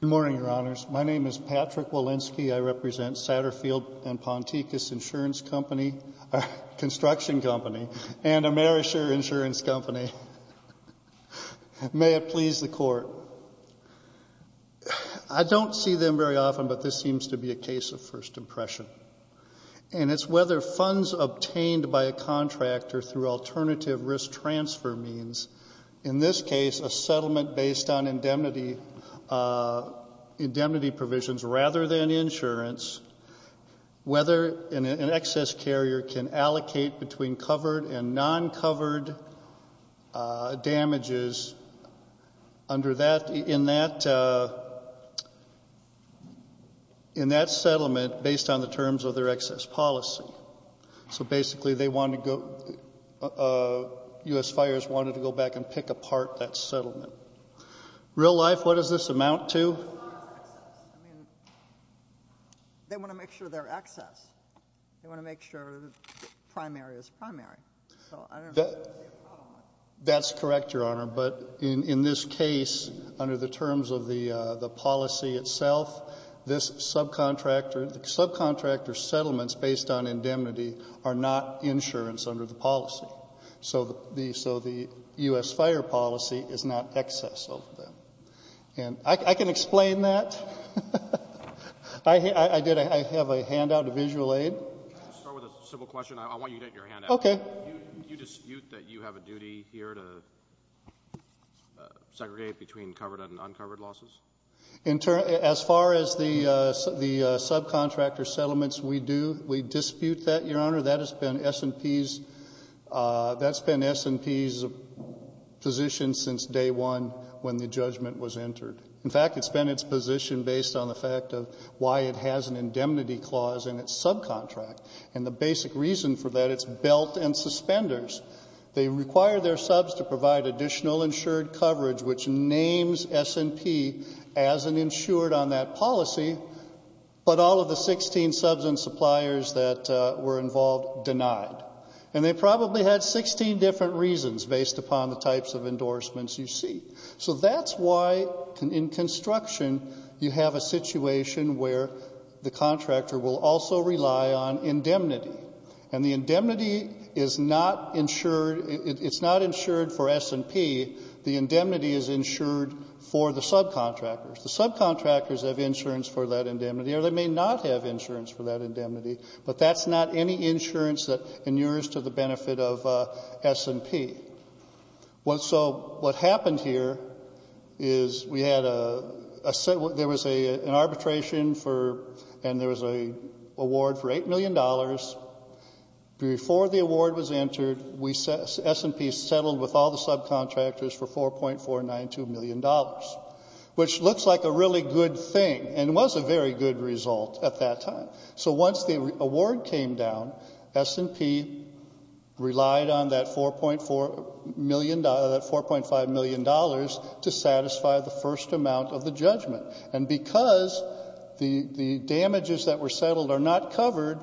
Good morning, Your Honors. My name is Patrick Walensky. I represent Satterfield & Ponticus Insurance Company, Construction Company, and Amerisher Insurance Company. May it please the Court. I don't see them very often, but this seems to be a case of first impression. And it's whether funds obtained by a contractor through alternative risk transfer means, in this case, a settlement based on indemnity provisions rather than insurance, whether an excess carrier can allocate between covered and non-covered damages in that settlement based on the terms of their excess policy. So basically, U.S. Fires wanted to go back and pick apart that settlement. Real life, what does this amount to? It amounts to excess. I mean, they want to make sure they're excess. They want to make sure the primary is primary. So I don't see a problem with that. That's correct, Your Honor. But in this case, under the terms of the policy itself, this subcontractor — subcontractor settlements based on indemnity are not insurance under the policy. So the — so the U.S. Fire policy is not excess of them. And I can explain that. I did — I have a handout, a visual aid. I'll start with a simple question. I want you to get your handout. Okay. Do you dispute that you have a duty here to segregate between covered and uncovered losses? In — as far as the subcontractor settlements, we do. We dispute that, Your Honor. That has been S&P's — that's been S&P's position since day one when the judgment was entered. In fact, it's been its position based on the fact of why it has an indemnity clause in its subcontract. And the basic reason for that, it's belt and suspenders. They require their subs to provide additional insured coverage, which names S&P as an insured on that policy, but all of the 16 subs and suppliers that were involved denied. And they probably had 16 different reasons based upon the types of endorsements you see. So that's why, in construction, you have a situation where the contractor will also rely on indemnity. And the indemnity is not insured — it's not insured for S&P. The indemnity is insured for the subcontractors. The subcontractors have insurance for that indemnity, or they may not have insurance for that indemnity. But that's not any insurance that inures to the benefit of S&P. So what happened here is we had a — there was an arbitration for — and there was an award for $8 million. Before the award was entered, we — S&P settled with all the subcontractors for $4.492 million, which looks like a really good thing and was a very good result at that time. So once the award came down, S&P relied on that $4.4 million — that $4.5 million to satisfy the first amount of the judgment. And because the damages that were settled are not covered,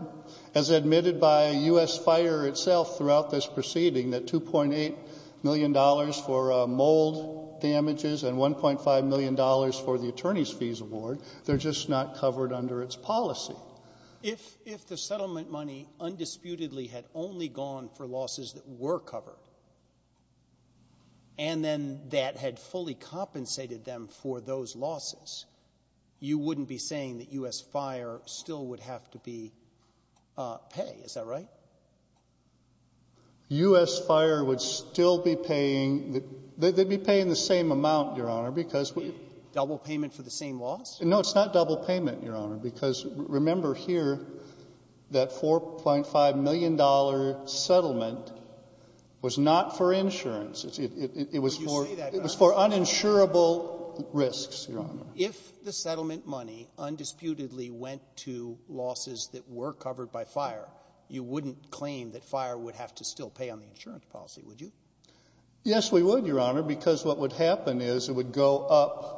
as admitted by U.S. Fire itself throughout this proceeding, that $2.8 million for mold damages and $1.5 million for the attorney's fees award, they're just not covered under its policy. If the settlement money undisputedly had only gone for losses that were covered and then that had fully compensated them for those losses, you wouldn't be saying that U.S. Fire still would have to be — pay, is that right? U.S. Fire would still be paying — they'd be paying the same amount, Your Honor, because we — Double payment for the same loss? No, it's not double payment, Your Honor, because remember here that $4.5 million settlement was not for insurance. It was for — Would you say that — It was for uninsurable risks, Your Honor. If the settlement money undisputedly went to losses that were covered by Fire, you wouldn't claim that Fire would have to still pay on the insurance policy, would you? Yes, we would, Your Honor, because what would happen is it would go up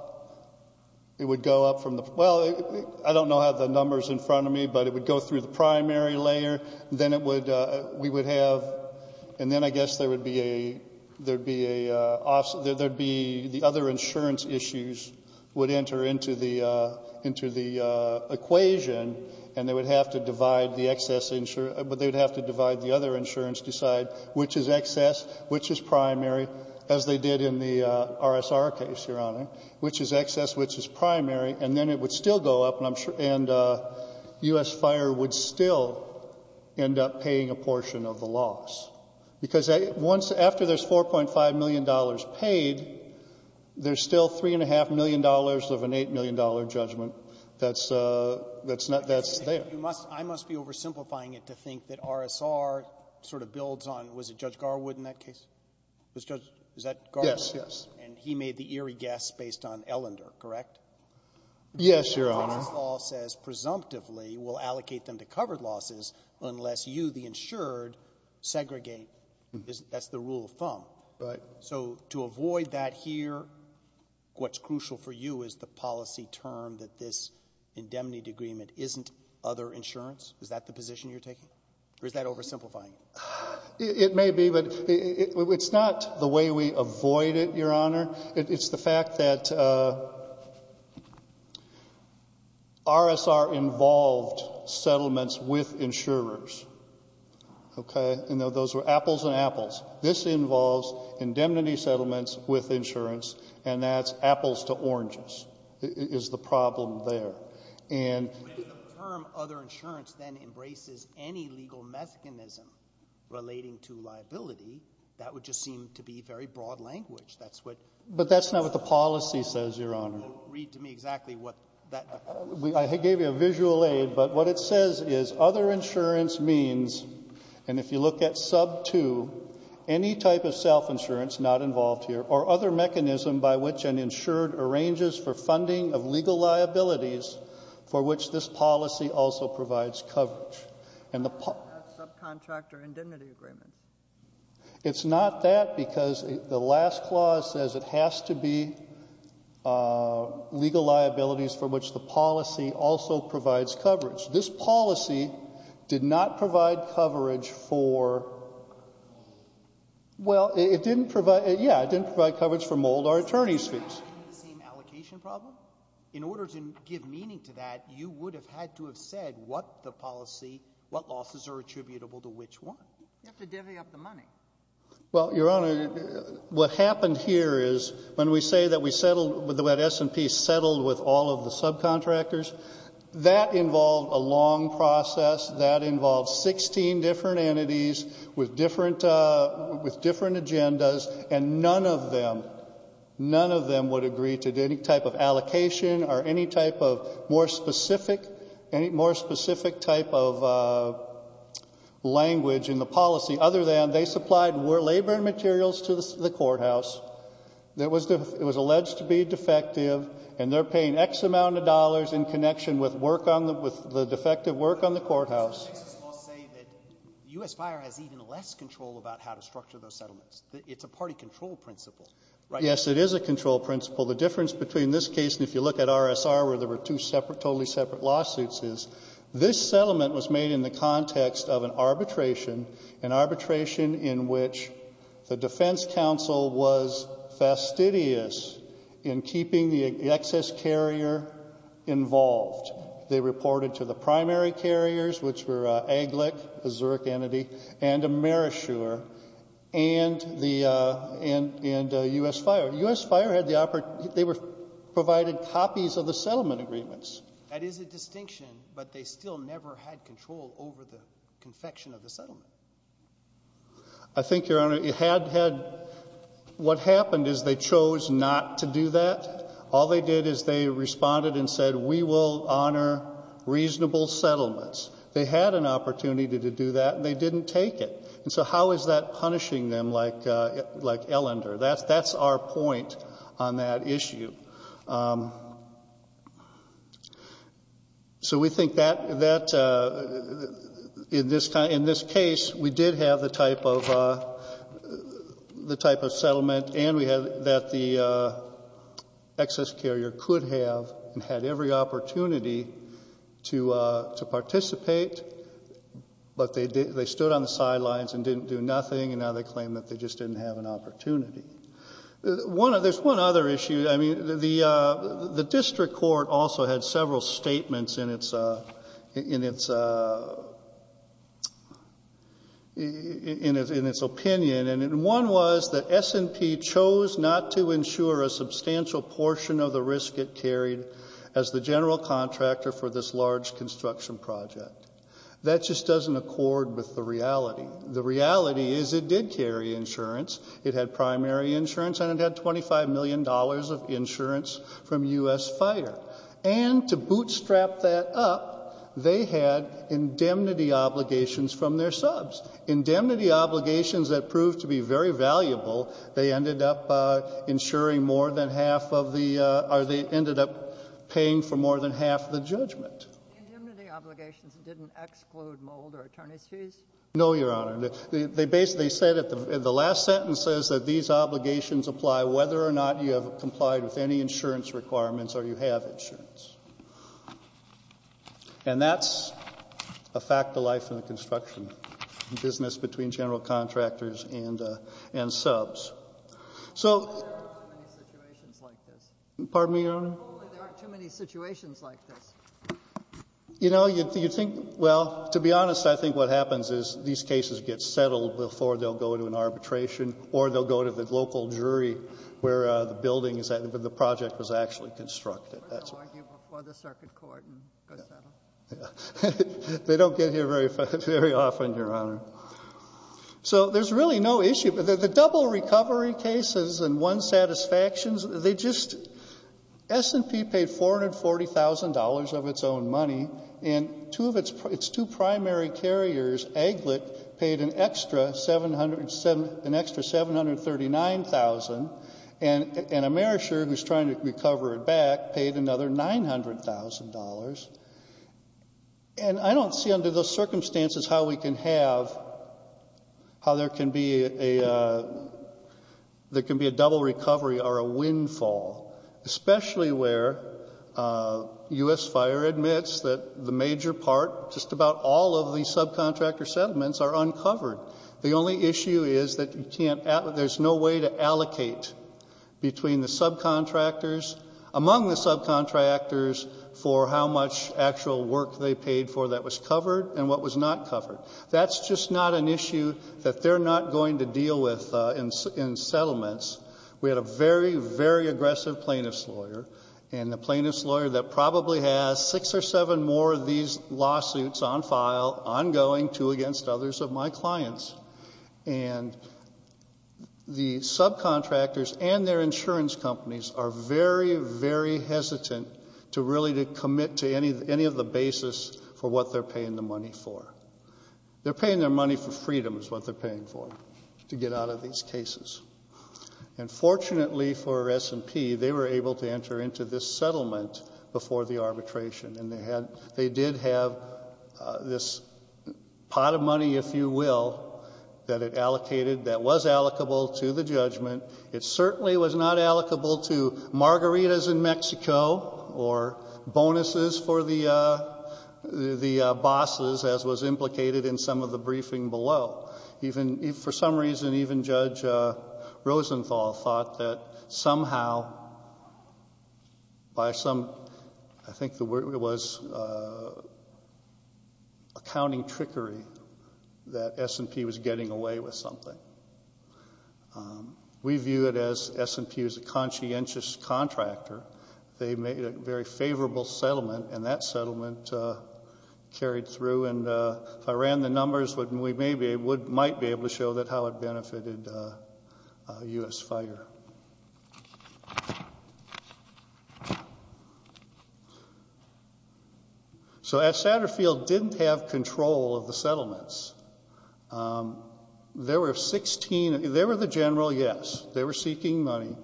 — it would go up from the — well, I don't know how the number's in front of me, but it would go through the primary layer. Then it would — we would have — and then I guess there would be a — there'd be a — there'd be — the other insurance issues would enter into the — into the equation, and they would have to divide the excess — they'd have to divide the other insurance to decide which is excess, which is primary, as they did in the R.S.R. case, Your Honor, which is excess, which is primary. And then it would still go up, and I'm — and U.S. Fire would still end up paying a portion of the loss, because once — after there's $4.5 million paid, there's still $3.5 million of an $8 million judgment that's — that's there. You must — I must be oversimplifying it to think that R.S.R. sort of builds on — was it Judge Garwood in that case? Was Judge — was that Garwood? Yes, yes. And he made the eerie guess based on Ellender, correct? Yes, Your Honor. This law says, presumptively, we'll allocate them to covered losses unless you, the insured, segregate. That's the rule of thumb. Right. So to avoid that here, what's crucial for you is the policy term that this indemnity agreement isn't other insurance? Is that the position you're taking? Or is that oversimplifying? It may be, but it's not the way we avoid it, Your Honor. It's the fact that R.S.R. involved settlements with insurers, okay? And those were apples and apples. This involves indemnity settlements with insurance, and that's apples to oranges is the problem there. And — But if the term other insurance then embraces any legal mechanism relating to liability, that would just seem to be very broad language. That's what — But that's not what the policy says, Your Honor. Read to me exactly what that — I gave you a visual aid, but what it says is other insurance means, and if you look at sub 2, any type of self-insurance not involved here, or other mechanism by which an insured arranges for funding of legal liabilities for which this policy also provides coverage. And the — That's subcontractor indemnity agreements. It's not that, because the last clause says it has to be legal liabilities for which the policy also provides coverage. This policy did not provide coverage for — Well, it didn't provide — yeah, it didn't provide coverage for mold or attorney's fees. But isn't that the same allocation problem? In order to give meaning to that, you would have had to have said what the policy — what losses are attributable to which one. You have to divvy up the money. Well, Your Honor, what happened here is, when we say that we settled — that S&P settled with all of the subcontractors, that involved a long process. That involved 16 different entities with different — with different agendas, and none of them — none of them would agree to any type of allocation or any type of more specific — any more specific type of language in the policy, other than they supplied labor and materials to the courthouse that was — it was alleged to be defective, and they're paying X amount of dollars in connection with work on the — with the defective work on the courthouse. But it makes us all say that U.S. Fire has even less control about how to structure those settlements. It's a party control principle, right? Yes, it is a control principle. The difference between this case and if you look at R.S.R., there were two separate — totally separate lawsuits, is this settlement was made in the context of an arbitration, an arbitration in which the defense counsel was fastidious in keeping the excess carrier involved. They reported to the primary carriers, which were Aglec, a Zurich entity, and Amerishore, and the — and U.S. Fire. U.S. Fire had the — they were — provided copies of the settlement agreements. That is a distinction, but they still never had control over the confection of the settlement. I think, Your Honor, it had — had — what happened is they chose not to do that. All they did is they responded and said, we will honor reasonable settlements. They had an opportunity to do that, and they didn't take it. And so how is that punishing them like — like Ellender? That's — that's our point on that issue. So we think that — that in this — in this case, we did have the type of — the type of settlement and we had — that the excess carrier could have and had every opportunity to — to participate, but they — they stood on the sidelines and didn't do nothing, and now they claim that they just didn't have an opportunity. One — there's one other issue. I mean, the — the district court also had several statements in its — in its — in its opinion, and one was that S&P chose not to ensure a substantial portion of the risk it carried as the general contractor for this large construction project. That just doesn't accord with the reality. The reality is it did carry insurance. It had primary insurance, and it had $25 million of insurance from U.S. FIRE. And to bootstrap that up, they had indemnity obligations from their subs — indemnity obligations that proved to be very valuable. They ended up insuring more than half of the — or the indemnity obligations didn't exclude mold or attorney's fees? No, Your Honor. They basically said at the — the last sentence says that these obligations apply whether or not you have complied with any insurance requirements or you have insurance. And that's a fact of life in the construction business between general contractors and — and subs. So — There aren't too many situations like this. Pardon me, Your Honor? There aren't too many situations like this. You know, you'd think — well, to be honest, I think what happens is these cases get settled before they'll go to an arbitration or they'll go to the local jury where the building is — where the project was actually constructed. That's — Or they'll argue before the circuit court and go settle. Yeah. Yeah. They don't get here very — very often, Your Honor. So there's really no issue. The — the double recovery cases and one satisfactions, they just — S&P paid $440,000 of its own money, and two of its — its two primary carriers, Aglet, paid an extra 700 — an extra $739,000. And Amerisher, who's trying to recover it back, paid another $900,000. And I don't see under those circumstances how we can have — how there can be a — there can be a double recovery or a windfall, especially where U.S. Fire admits that the major part — just about all of the subcontractor settlements are uncovered. The only issue is that you can't — there's no way to allocate between the subcontractors — among the subcontractors — for how much actual work they paid for that was covered and what was not going to deal with in settlements. We had a very, very aggressive plaintiff's lawyer, and the plaintiff's lawyer that probably has six or seven more of these lawsuits on file, ongoing, two against others of my clients. And the subcontractors and their insurance companies are very, very hesitant to really to commit to any — any of the basis for what they're paying the money for. They're paying their money for freedoms, what they're paying for, to get out of these cases. And fortunately for S&P, they were able to enter into this settlement before the arbitration. And they had — they did have this pot of money, if you will, that it allocated that was allocable to the judgment. It certainly was not allocable to margaritas in Mexico or bonuses for the bosses, as was implicated in some of the briefing below. Even — for some reason, even Judge Rosenthal thought that somehow, by some — I think it was accounting trickery that S&P was getting away with something. We view it as S&P was a conscientious contractor. They made a very favorable settlement, and that settlement carried through. And if I ran the numbers, we may be — might be able to show that how it benefited U.S. Fire. So, Satterfield didn't have control of the settlements. There were 16 — they were the general, yes. They were seeking money.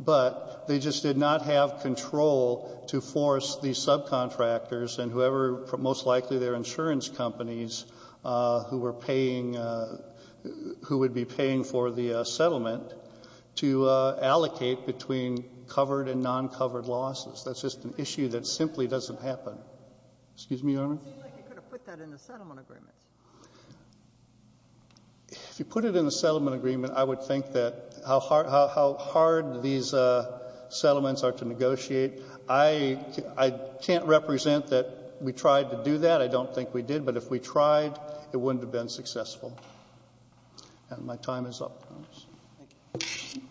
But they just did not have control to force these subcontractors and whoever — most likely their insurance companies who were paying — who would be paying for the settlement to allocate between covered and non-covered losses. That's just an issue that simply doesn't happen. Excuse me, Your Honor? It seems like you could have put that in the settlement agreement. If you put it in the settlement agreement, I would think that — how hard — how hard these settlements are to negotiate. I can't represent that we tried to do that. I don't think we did. But if we tried, it wouldn't have been successful. And my time is up, Your Honor. Thank you.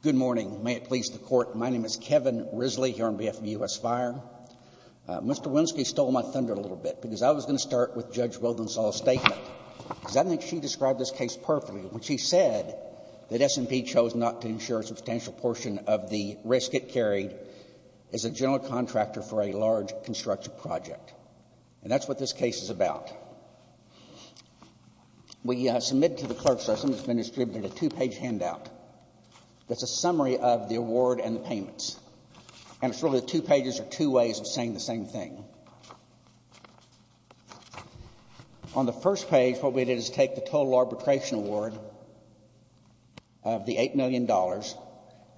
Good morning. May it please the Court. My name is Kevin Risley here on behalf of U.S. Fire. Mr. Winsky stole my thunder a little bit, because I was going to start with Judge Wildensaw's statement, because I think she described this case perfectly. When she said that S&P chose not to insure a substantial portion of the risk it carried as a general contractor for a large construction project. And that's what this case is about. We submitted to the clerk's system — it's been distributed — a two-page handout that's a summary of the award and the payments. And it's really two pages or two ways of saying the same thing. On the first page, what we did is take the total arbitration award of the $8 million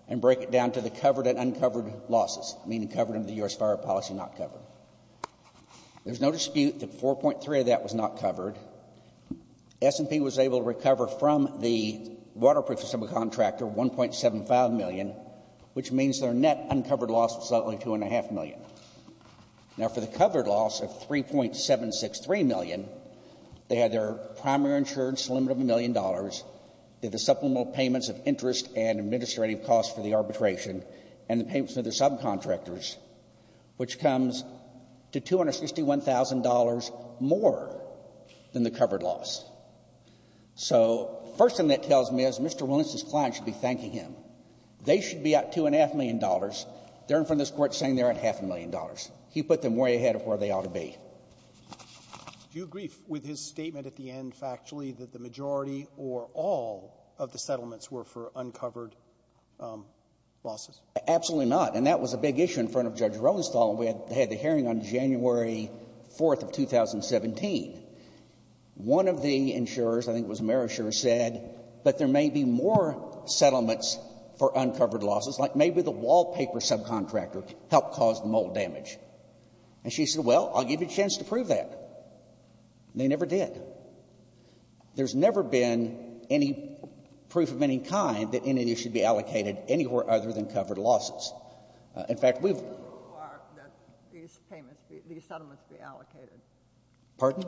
and break it down to the covered and uncovered losses, meaning covered under the U.S. Fire policy, not covered. There's no dispute that 4.3 of that was not covered. S&P was able to recover from the waterproofing contractor $1.75 million, which means their net Now, for the covered loss of $3.763 million, they had their primary insurance limit of $1 million, they had the supplemental payments of interest and administrative costs for the arbitration, and the payments to their subcontractors, which comes to $261,000 more than the covered loss. So the first thing that tells me is Mr. Winsky's client should be thanking him. They should be at $2.5 million. They're in front of this Court saying they're at $0.5 million. He put them way ahead of where they ought to be. Roberts. Do you agree with his statement at the end, factually, that the majority or all of the settlements were for uncovered losses? Absolutely not. And that was a big issue in front of Judge Ronstadl. We had the hearing on January 4th of 2017. One of the insurers, I think it was Marisher, said that there may be more settlements for uncovered losses, like maybe the wallpaper subcontractor helped cause the mold damage. And she said, well, I'll give you a chance to prove that. And they never did. There's never been any proof of any kind that any of these should be allocated anywhere other than covered losses. In fact, we've been able to do that. You didn't require that these settlements be allocated. Pardon?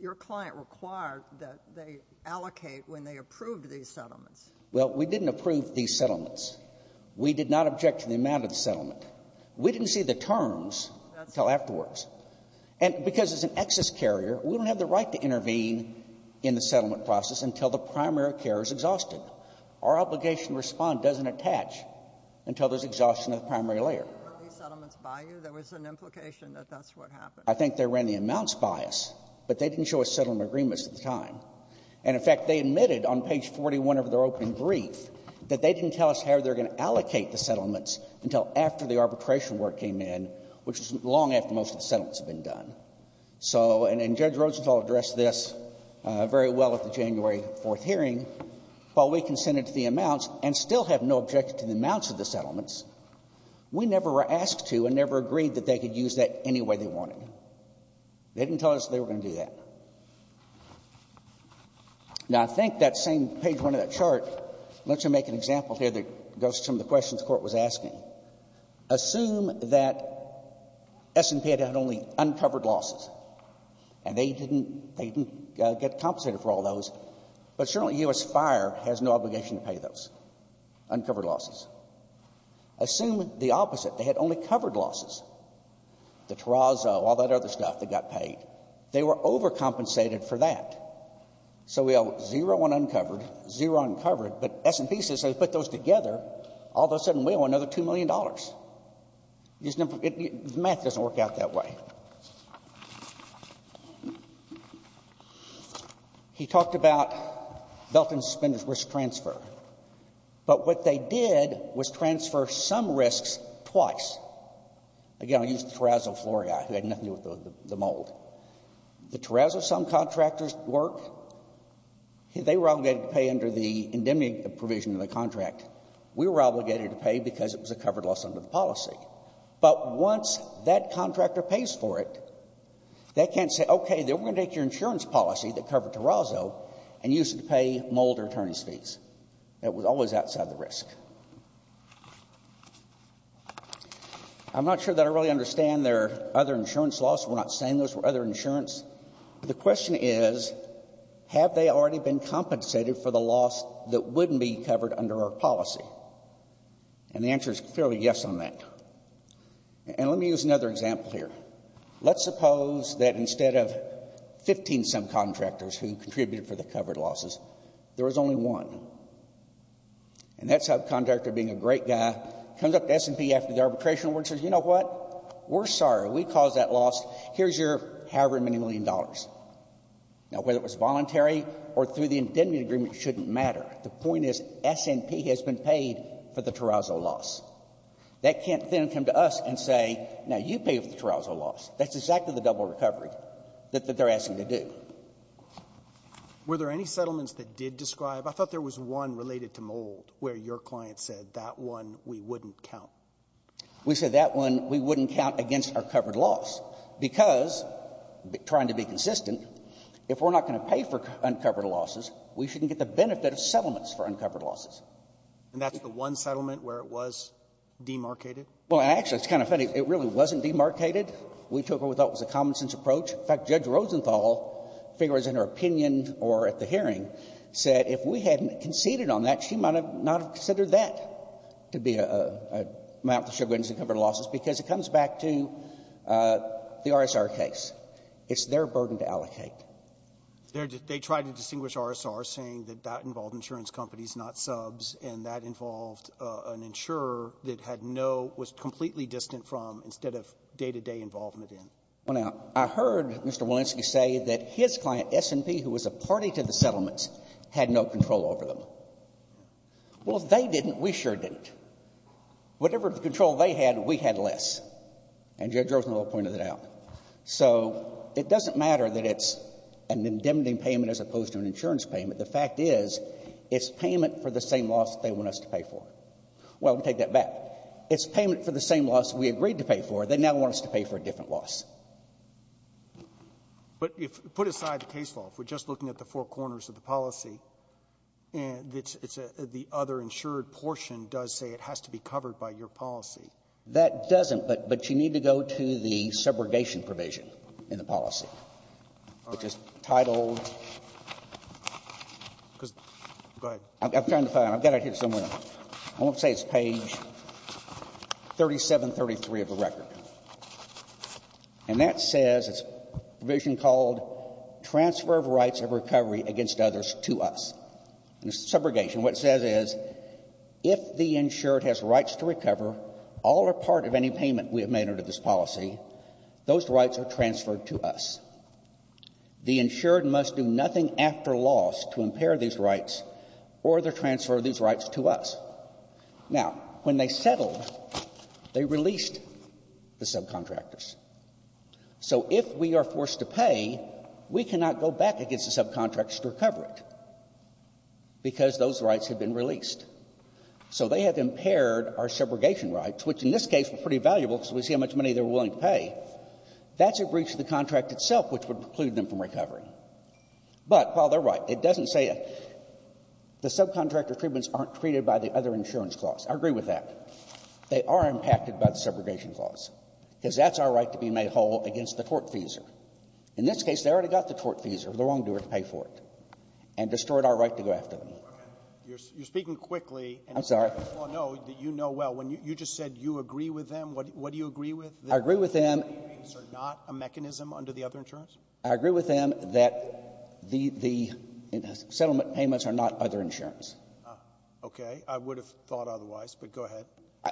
Your client required that they allocate when they approved these settlements. Well, we didn't approve these settlements. We did not object to the amount of the settlement. We didn't see the terms until afterwards. And because it's an excess carrier, we don't have the right to intervene in the settlement process until the primary carrier is exhausted. Our obligation to respond doesn't attach until there's exhaustion of the primary layer. Were these settlements by you? There was an implication that that's what happened. I think they ran the amounts by us, but they didn't show us settlement agreements at the time. And, in fact, they admitted on page 41 of their opening brief that they didn't tell us how they were going to allocate the settlements until after the arbitration work came in, which was long after most of the settlements had been done. So and Judge Rosenthal addressed this very well at the January 4th hearing. While we consented to the amounts and still have no objection to the amounts of the settlements, we never asked to and never agreed that they could use that any way they wanted. They didn't tell us they were going to do that. Now, I think that same page one of that chart, let's just make an example here that goes to some of the questions the Court was asking. Assume that S&P had had only uncovered losses, and they didn't get compensated for all those, but certainly U.S. Fire has no obligation to pay those uncovered losses. Assume the opposite. They had only covered losses, the Terrazzo, all that other stuff that got paid. They were overcompensated for that. So we have zero ununcovered, zero uncovered. But S&P says, put those together, all of a sudden we owe another $2 million. Math doesn't work out that way. He talked about Belkin's suspended risk transfer. But what they did was transfer some risks twice. Again, I'll use the Terrazzo Florii, who had nothing to do with the mold. The Terrazzo, some contractors work, they were obligated to pay under the indemnity provision of the contract. We were obligated to pay because it was a covered loss under the policy. But once that contractor pays for it, they can't say, okay, then we're going to take your insurance policy that covered Terrazzo and use it to pay mold or attorney's fees. That was always outside the risk. I'm not sure that I really understand their other insurance loss. We're not saying those were other insurance. The question is, have they already been compensated for the loss that wouldn't be covered under our policy? And the answer is clearly yes on that. And let me use another example here. Let's suppose that instead of 15 some contractors who contributed for the covered losses, there was only one. And that subcontractor, being a great guy, comes up to S&P after the arbitration award and says, you know what? We're sorry. We caused that loss. Here's your however many million dollars. Now, whether it was voluntary or through the indemnity agreement shouldn't matter. The point is S&P has been paid for the Terrazzo loss. They can't then come to us and say, now you pay for the Terrazzo loss. That's exactly the double recovery that they're asking to do. Were there any settlements that did describe? I thought there was one related to Mould where your client said that one we wouldn't count. We said that one we wouldn't count against our covered loss because, trying to be consistent, if we're not going to pay for uncovered losses, we shouldn't get the benefit of settlements for uncovered losses. And that's the one settlement where it was demarcated? Well, actually, it's kind of funny. It really wasn't demarcated. We took what we thought was a common-sense approach. In fact, Judge Rosenthal figures in her opinion or at the hearing said if we hadn't conceded on that, she might not have considered that to be an amount that should have been covered losses because it comes back to the RSR case. It's their burden to allocate. They tried to distinguish RSR saying that that involved insurance companies, not subs, and that involved an insurer that had no, was completely distant from instead of day-to-day involvement in. Well, now, I heard Mr. Walensky say that his client, S&P, who was a party to the settlements, had no control over them. Well, if they didn't, we sure didn't. Whatever control they had, we had less. And Judge Rosenthal pointed that out. So it doesn't matter that it's an indemnity payment as opposed to an insurance payment. The fact is, it's payment for the same loss they want us to pay for. Well, we'll take that back. It's payment for the same loss we agreed to pay for. They now want us to pay for a different loss. But if you put aside the case law, if we're just looking at the four corners of the policy, the other insured portion does say it has to be covered by your policy. That doesn't. But you need to go to the subrogation provision in the policy, which is titled go ahead. I'm trying to find it. I've got it here somewhere. I won't say it's page 3733 of the record. And that says, it's a provision called transfer of rights of recovery against others to us. In subrogation, what it says is, if the insured has rights to recover, all or part of any payment we have made under this policy, those rights are transferred to us. The insured must do nothing after loss to impair these rights or to transfer these rights to us. Now, when they settled, they released the subcontractors. So if we are forced to pay, we cannot go back against the subcontractors to recover it, because those rights have been released. So they have impaired our subrogation rights, which in this case were pretty valuable because we see how much money they were willing to pay. That's a breach of the contract itself, which would preclude them from recovery. But while they're right, it doesn't say the subcontractor treatments aren't treated by the other insurance clause. I agree with that. They are impacted by the subrogation clause, because that's our right to be made whole against the tortfeasor. In this case, they already got the tortfeasor, the wrongdoer, to pay for it and destroyed our right to go after them. Roberts. You're speaking quickly. I'm sorry. Well, no. You know well. When you just said you agree with them, what do you agree with? I agree with them that the settlement payments are not a mechanism under the other insurance. I agree with them that the settlement payments are not other insurance. Okay. I would have thought otherwise, but go ahead.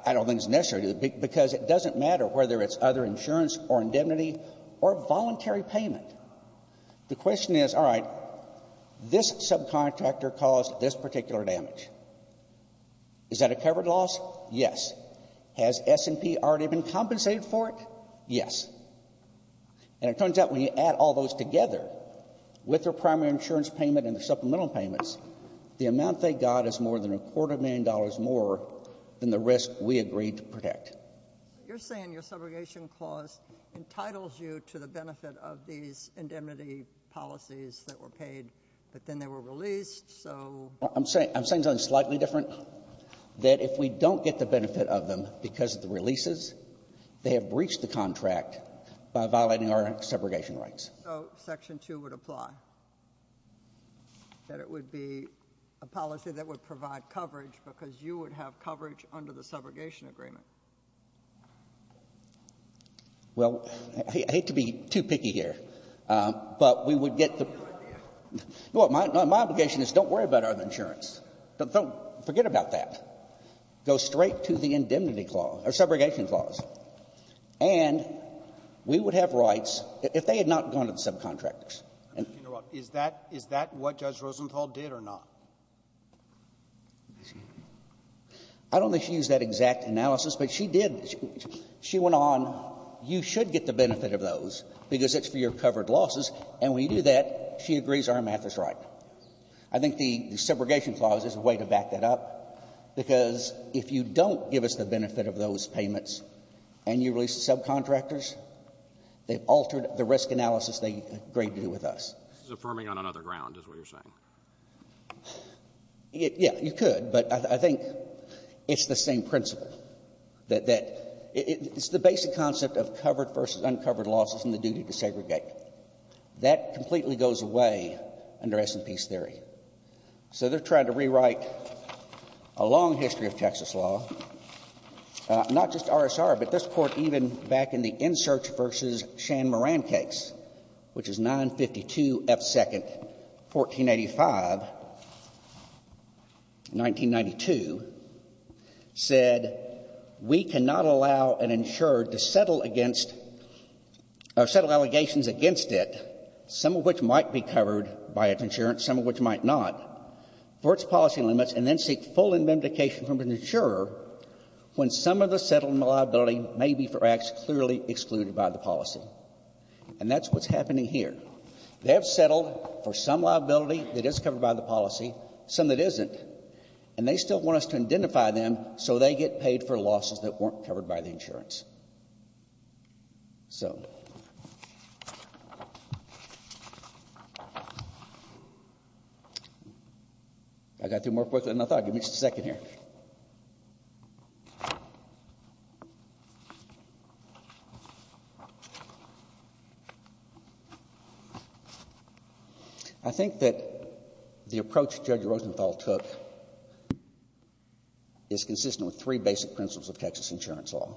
I don't think it's necessary, because it doesn't matter whether it's other insurance or indemnity or voluntary payment. The question is, all right, this subcontractor caused this particular damage. Is that a covered loss? Yes. Has S&P already been compensated for it? Yes. And it turns out when you add all those together with their primary insurance payment and their supplemental payments, the amount they got is more than a quarter million dollars more than the risk we agreed to protect. You're saying your subrogation clause entitles you to the benefit of these indemnity policies that were paid, but then they were released, so — I'm saying something slightly different, that if we don't get the benefit of them because of the releases, they have breached the contract by violating our subrogation rights. So Section 2 would apply, that it would be a policy that would provide coverage because you would have coverage under the subrogation agreement? Well, I hate to be too picky here, but we would get the — Well, my obligation is don't worry about other insurance. Don't forget about that. Go straight to the indemnity clause, or subrogation clause. And we would have rights if they had not gone to the subcontractors. Is that — is that what Judge Rosenthal did or not? I don't think she used that exact analysis, but she did. She went on, you should get the benefit of those because it's for your covered losses. And when you do that, she agrees our math is right. I think the subrogation clause is a way to back that up, because if you don't give us the benefit of those payments, and you release the subcontractors, they've altered the risk analysis they agreed to with us. This is affirming on another ground, is what you're saying. Yeah. You could. But I think it's the same principle, that it's the basic concept of covered versus uncovered losses and the duty to segregate. That completely goes away under S&P's theory. So they're trying to rewrite a long history of Texas law, not just RSR, but this Court, even back in the Insurch v. Shan-Moran case, which is 952 F. 2nd, 1485, 1992, said we cannot allow an insured to settle against — or settle allegations against it, some of which might be covered by its insurance, some of which might not — for its policy limits, and then seek full indemnification from an insurer when some of the settled liability may be for acts clearly excluded by the policy. And that's what's happening here. They have settled for some liability that is covered by the policy, some that isn't, and they still want us to identify them so they get paid for losses that weren't covered by the insurance. So I got through more quickly than I thought. Give me just a second here. I think that the approach Judge Rosenthal took is consistent with three basic principles of Texas insurance law.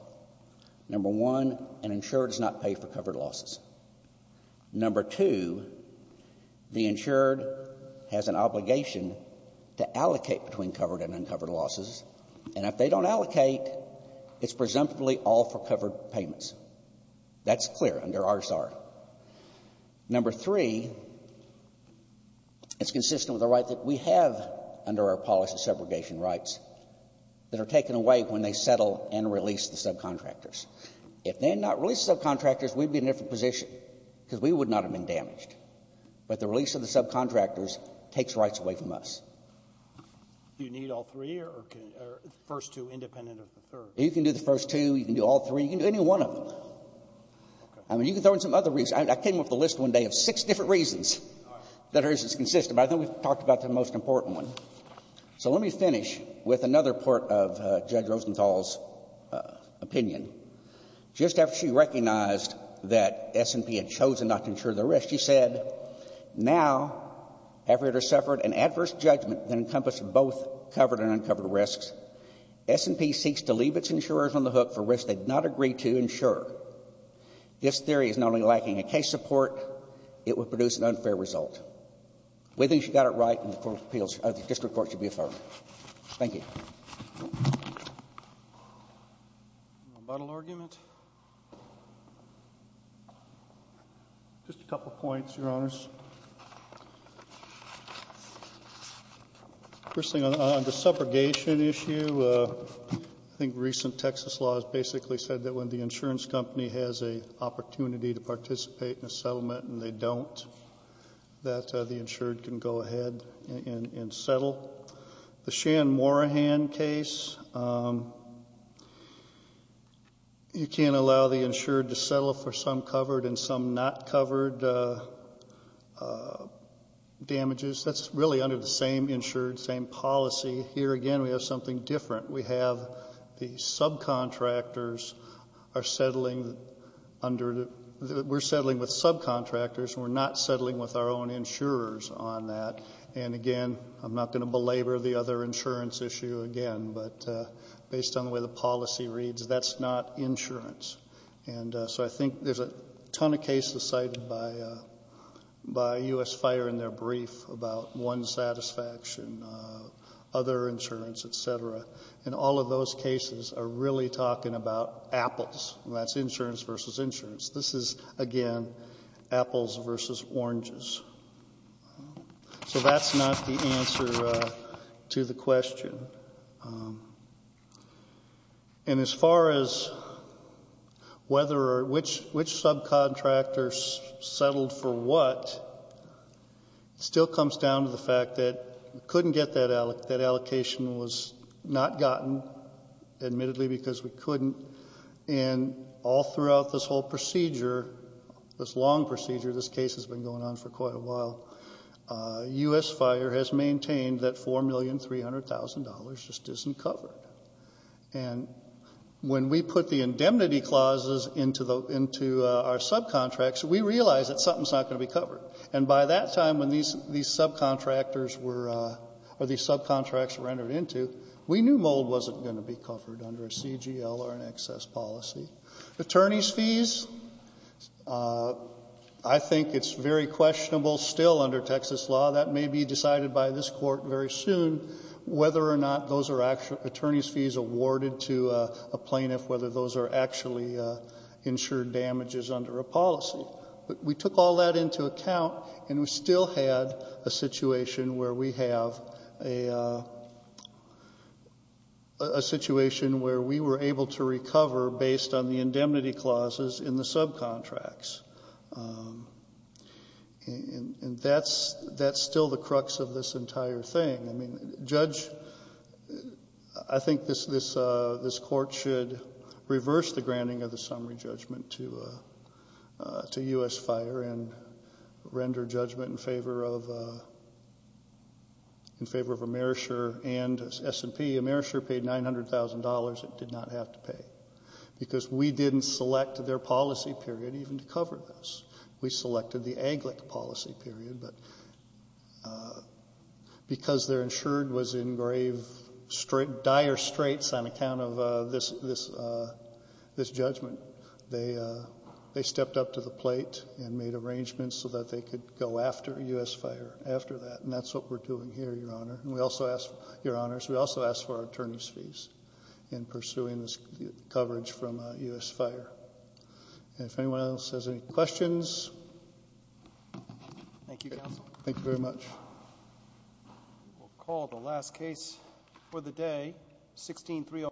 Number one, an insured does not pay for covered losses. Number two, the insured has an obligation to allocate between covered and uncovered losses, and if they don't allocate, it's presumptively all for covered payments. That's clear under RSR. Number three, it's consistent with the right that we have under our policy of segregation rights that are taken away when they settle and release the subcontractors. If they had not released the subcontractors, we'd be in a different position, because we would not have been damaged. But the release of the subcontractors takes rights away from us. Do you need all three or can — or the first two independent of the third? You can do the first two. You can do all three. You can do any one of them. I mean, you can throw in some other reasons. I came up with a list one day of six different reasons that are inconsistent. But I think we've talked about the most important one. So let me finish with another part of Judge Rosenthal's opinion. Just after she recognized that S&P had chosen not to insure the risks, she said, Now, after it had suffered an adverse judgment that encompassed both covered and uncovered risks, S&P seeks to leave its insurers on the hook for risks they did not agree to insure. This theory is not only lacking in case support, it would produce an unfair result. Whether she got it right in the court of appeals or the district court should be affirmed. Thank you. Buttle argument. Just a couple of points, Your Honors. First thing, on the subrogation issue, I think recent Texas law has basically said that when the insurance company has an opportunity to participate in a settlement and they don't, that the insured can go ahead and settle. The Shan-Morahan case, you can't allow the insured to settle for some covered and some not covered damages. That's really under the same insured, same policy. Here again, we have something different. We have the subcontractors are settling under the, we're settling with subcontractors, and we're not settling with our own insurers on that. And again, I'm not going to belabor the other insurance issue again, but based on the way the policy reads, that's not insurance. And so I think there's a ton of cases cited by U.S. Fire in their brief about one satisfaction, other insurance, et cetera. And all of those cases are really talking about apples. That's insurance versus insurance. This is, again, apples versus oranges. So that's not the answer to the question. And as far as whether or which subcontractors settled for what, it still comes down to the fact that we couldn't get that allocation. It was not gotten, admittedly, because we couldn't. And all throughout this whole procedure, this long procedure, this case has been going on for quite a while, U.S. Fire has maintained that $4,300,000 just isn't covered. And when we put the indemnity clauses into our subcontracts, we realized that something's not going to be covered. And by that time, when these subcontractors were, or these subcontracts were entered into, we knew mold wasn't going to be covered under a CGL or an excess policy. Attorneys' fees, I think it's very questionable still under Texas law, that may be decided by this Court very soon, whether or not those are attorneys' fees awarded to a plaintiff, whether those are actually insured damages under a policy. But we took all that into account, and we still had a situation where we have a situation where we were able to recover based on the indemnity clauses in the subcontracts. And that's still the crux of this entire thing. Judge, I think this Court should reverse the granting of the summary judgment to U.S. Fire and render judgment in favor of Amerisher and S&P. Amerisher paid $900,000 it did not have to pay, because we didn't select their policy period even to cover this. We selected the AGLIC policy period, but because they're insured was in grave, dire straits on account of this judgment, they stepped up to the plate and made arrangements so that they could go after U.S. Fire after that. And that's what we're doing here, Your Honor. And we also ask, Your Honors, we also ask for attorneys' fees in pursuing this coverage from U.S. Fire. And if anyone else has any questions. Thank you, Counsel. Thank you very much. We'll call the last case for the day, 16-309.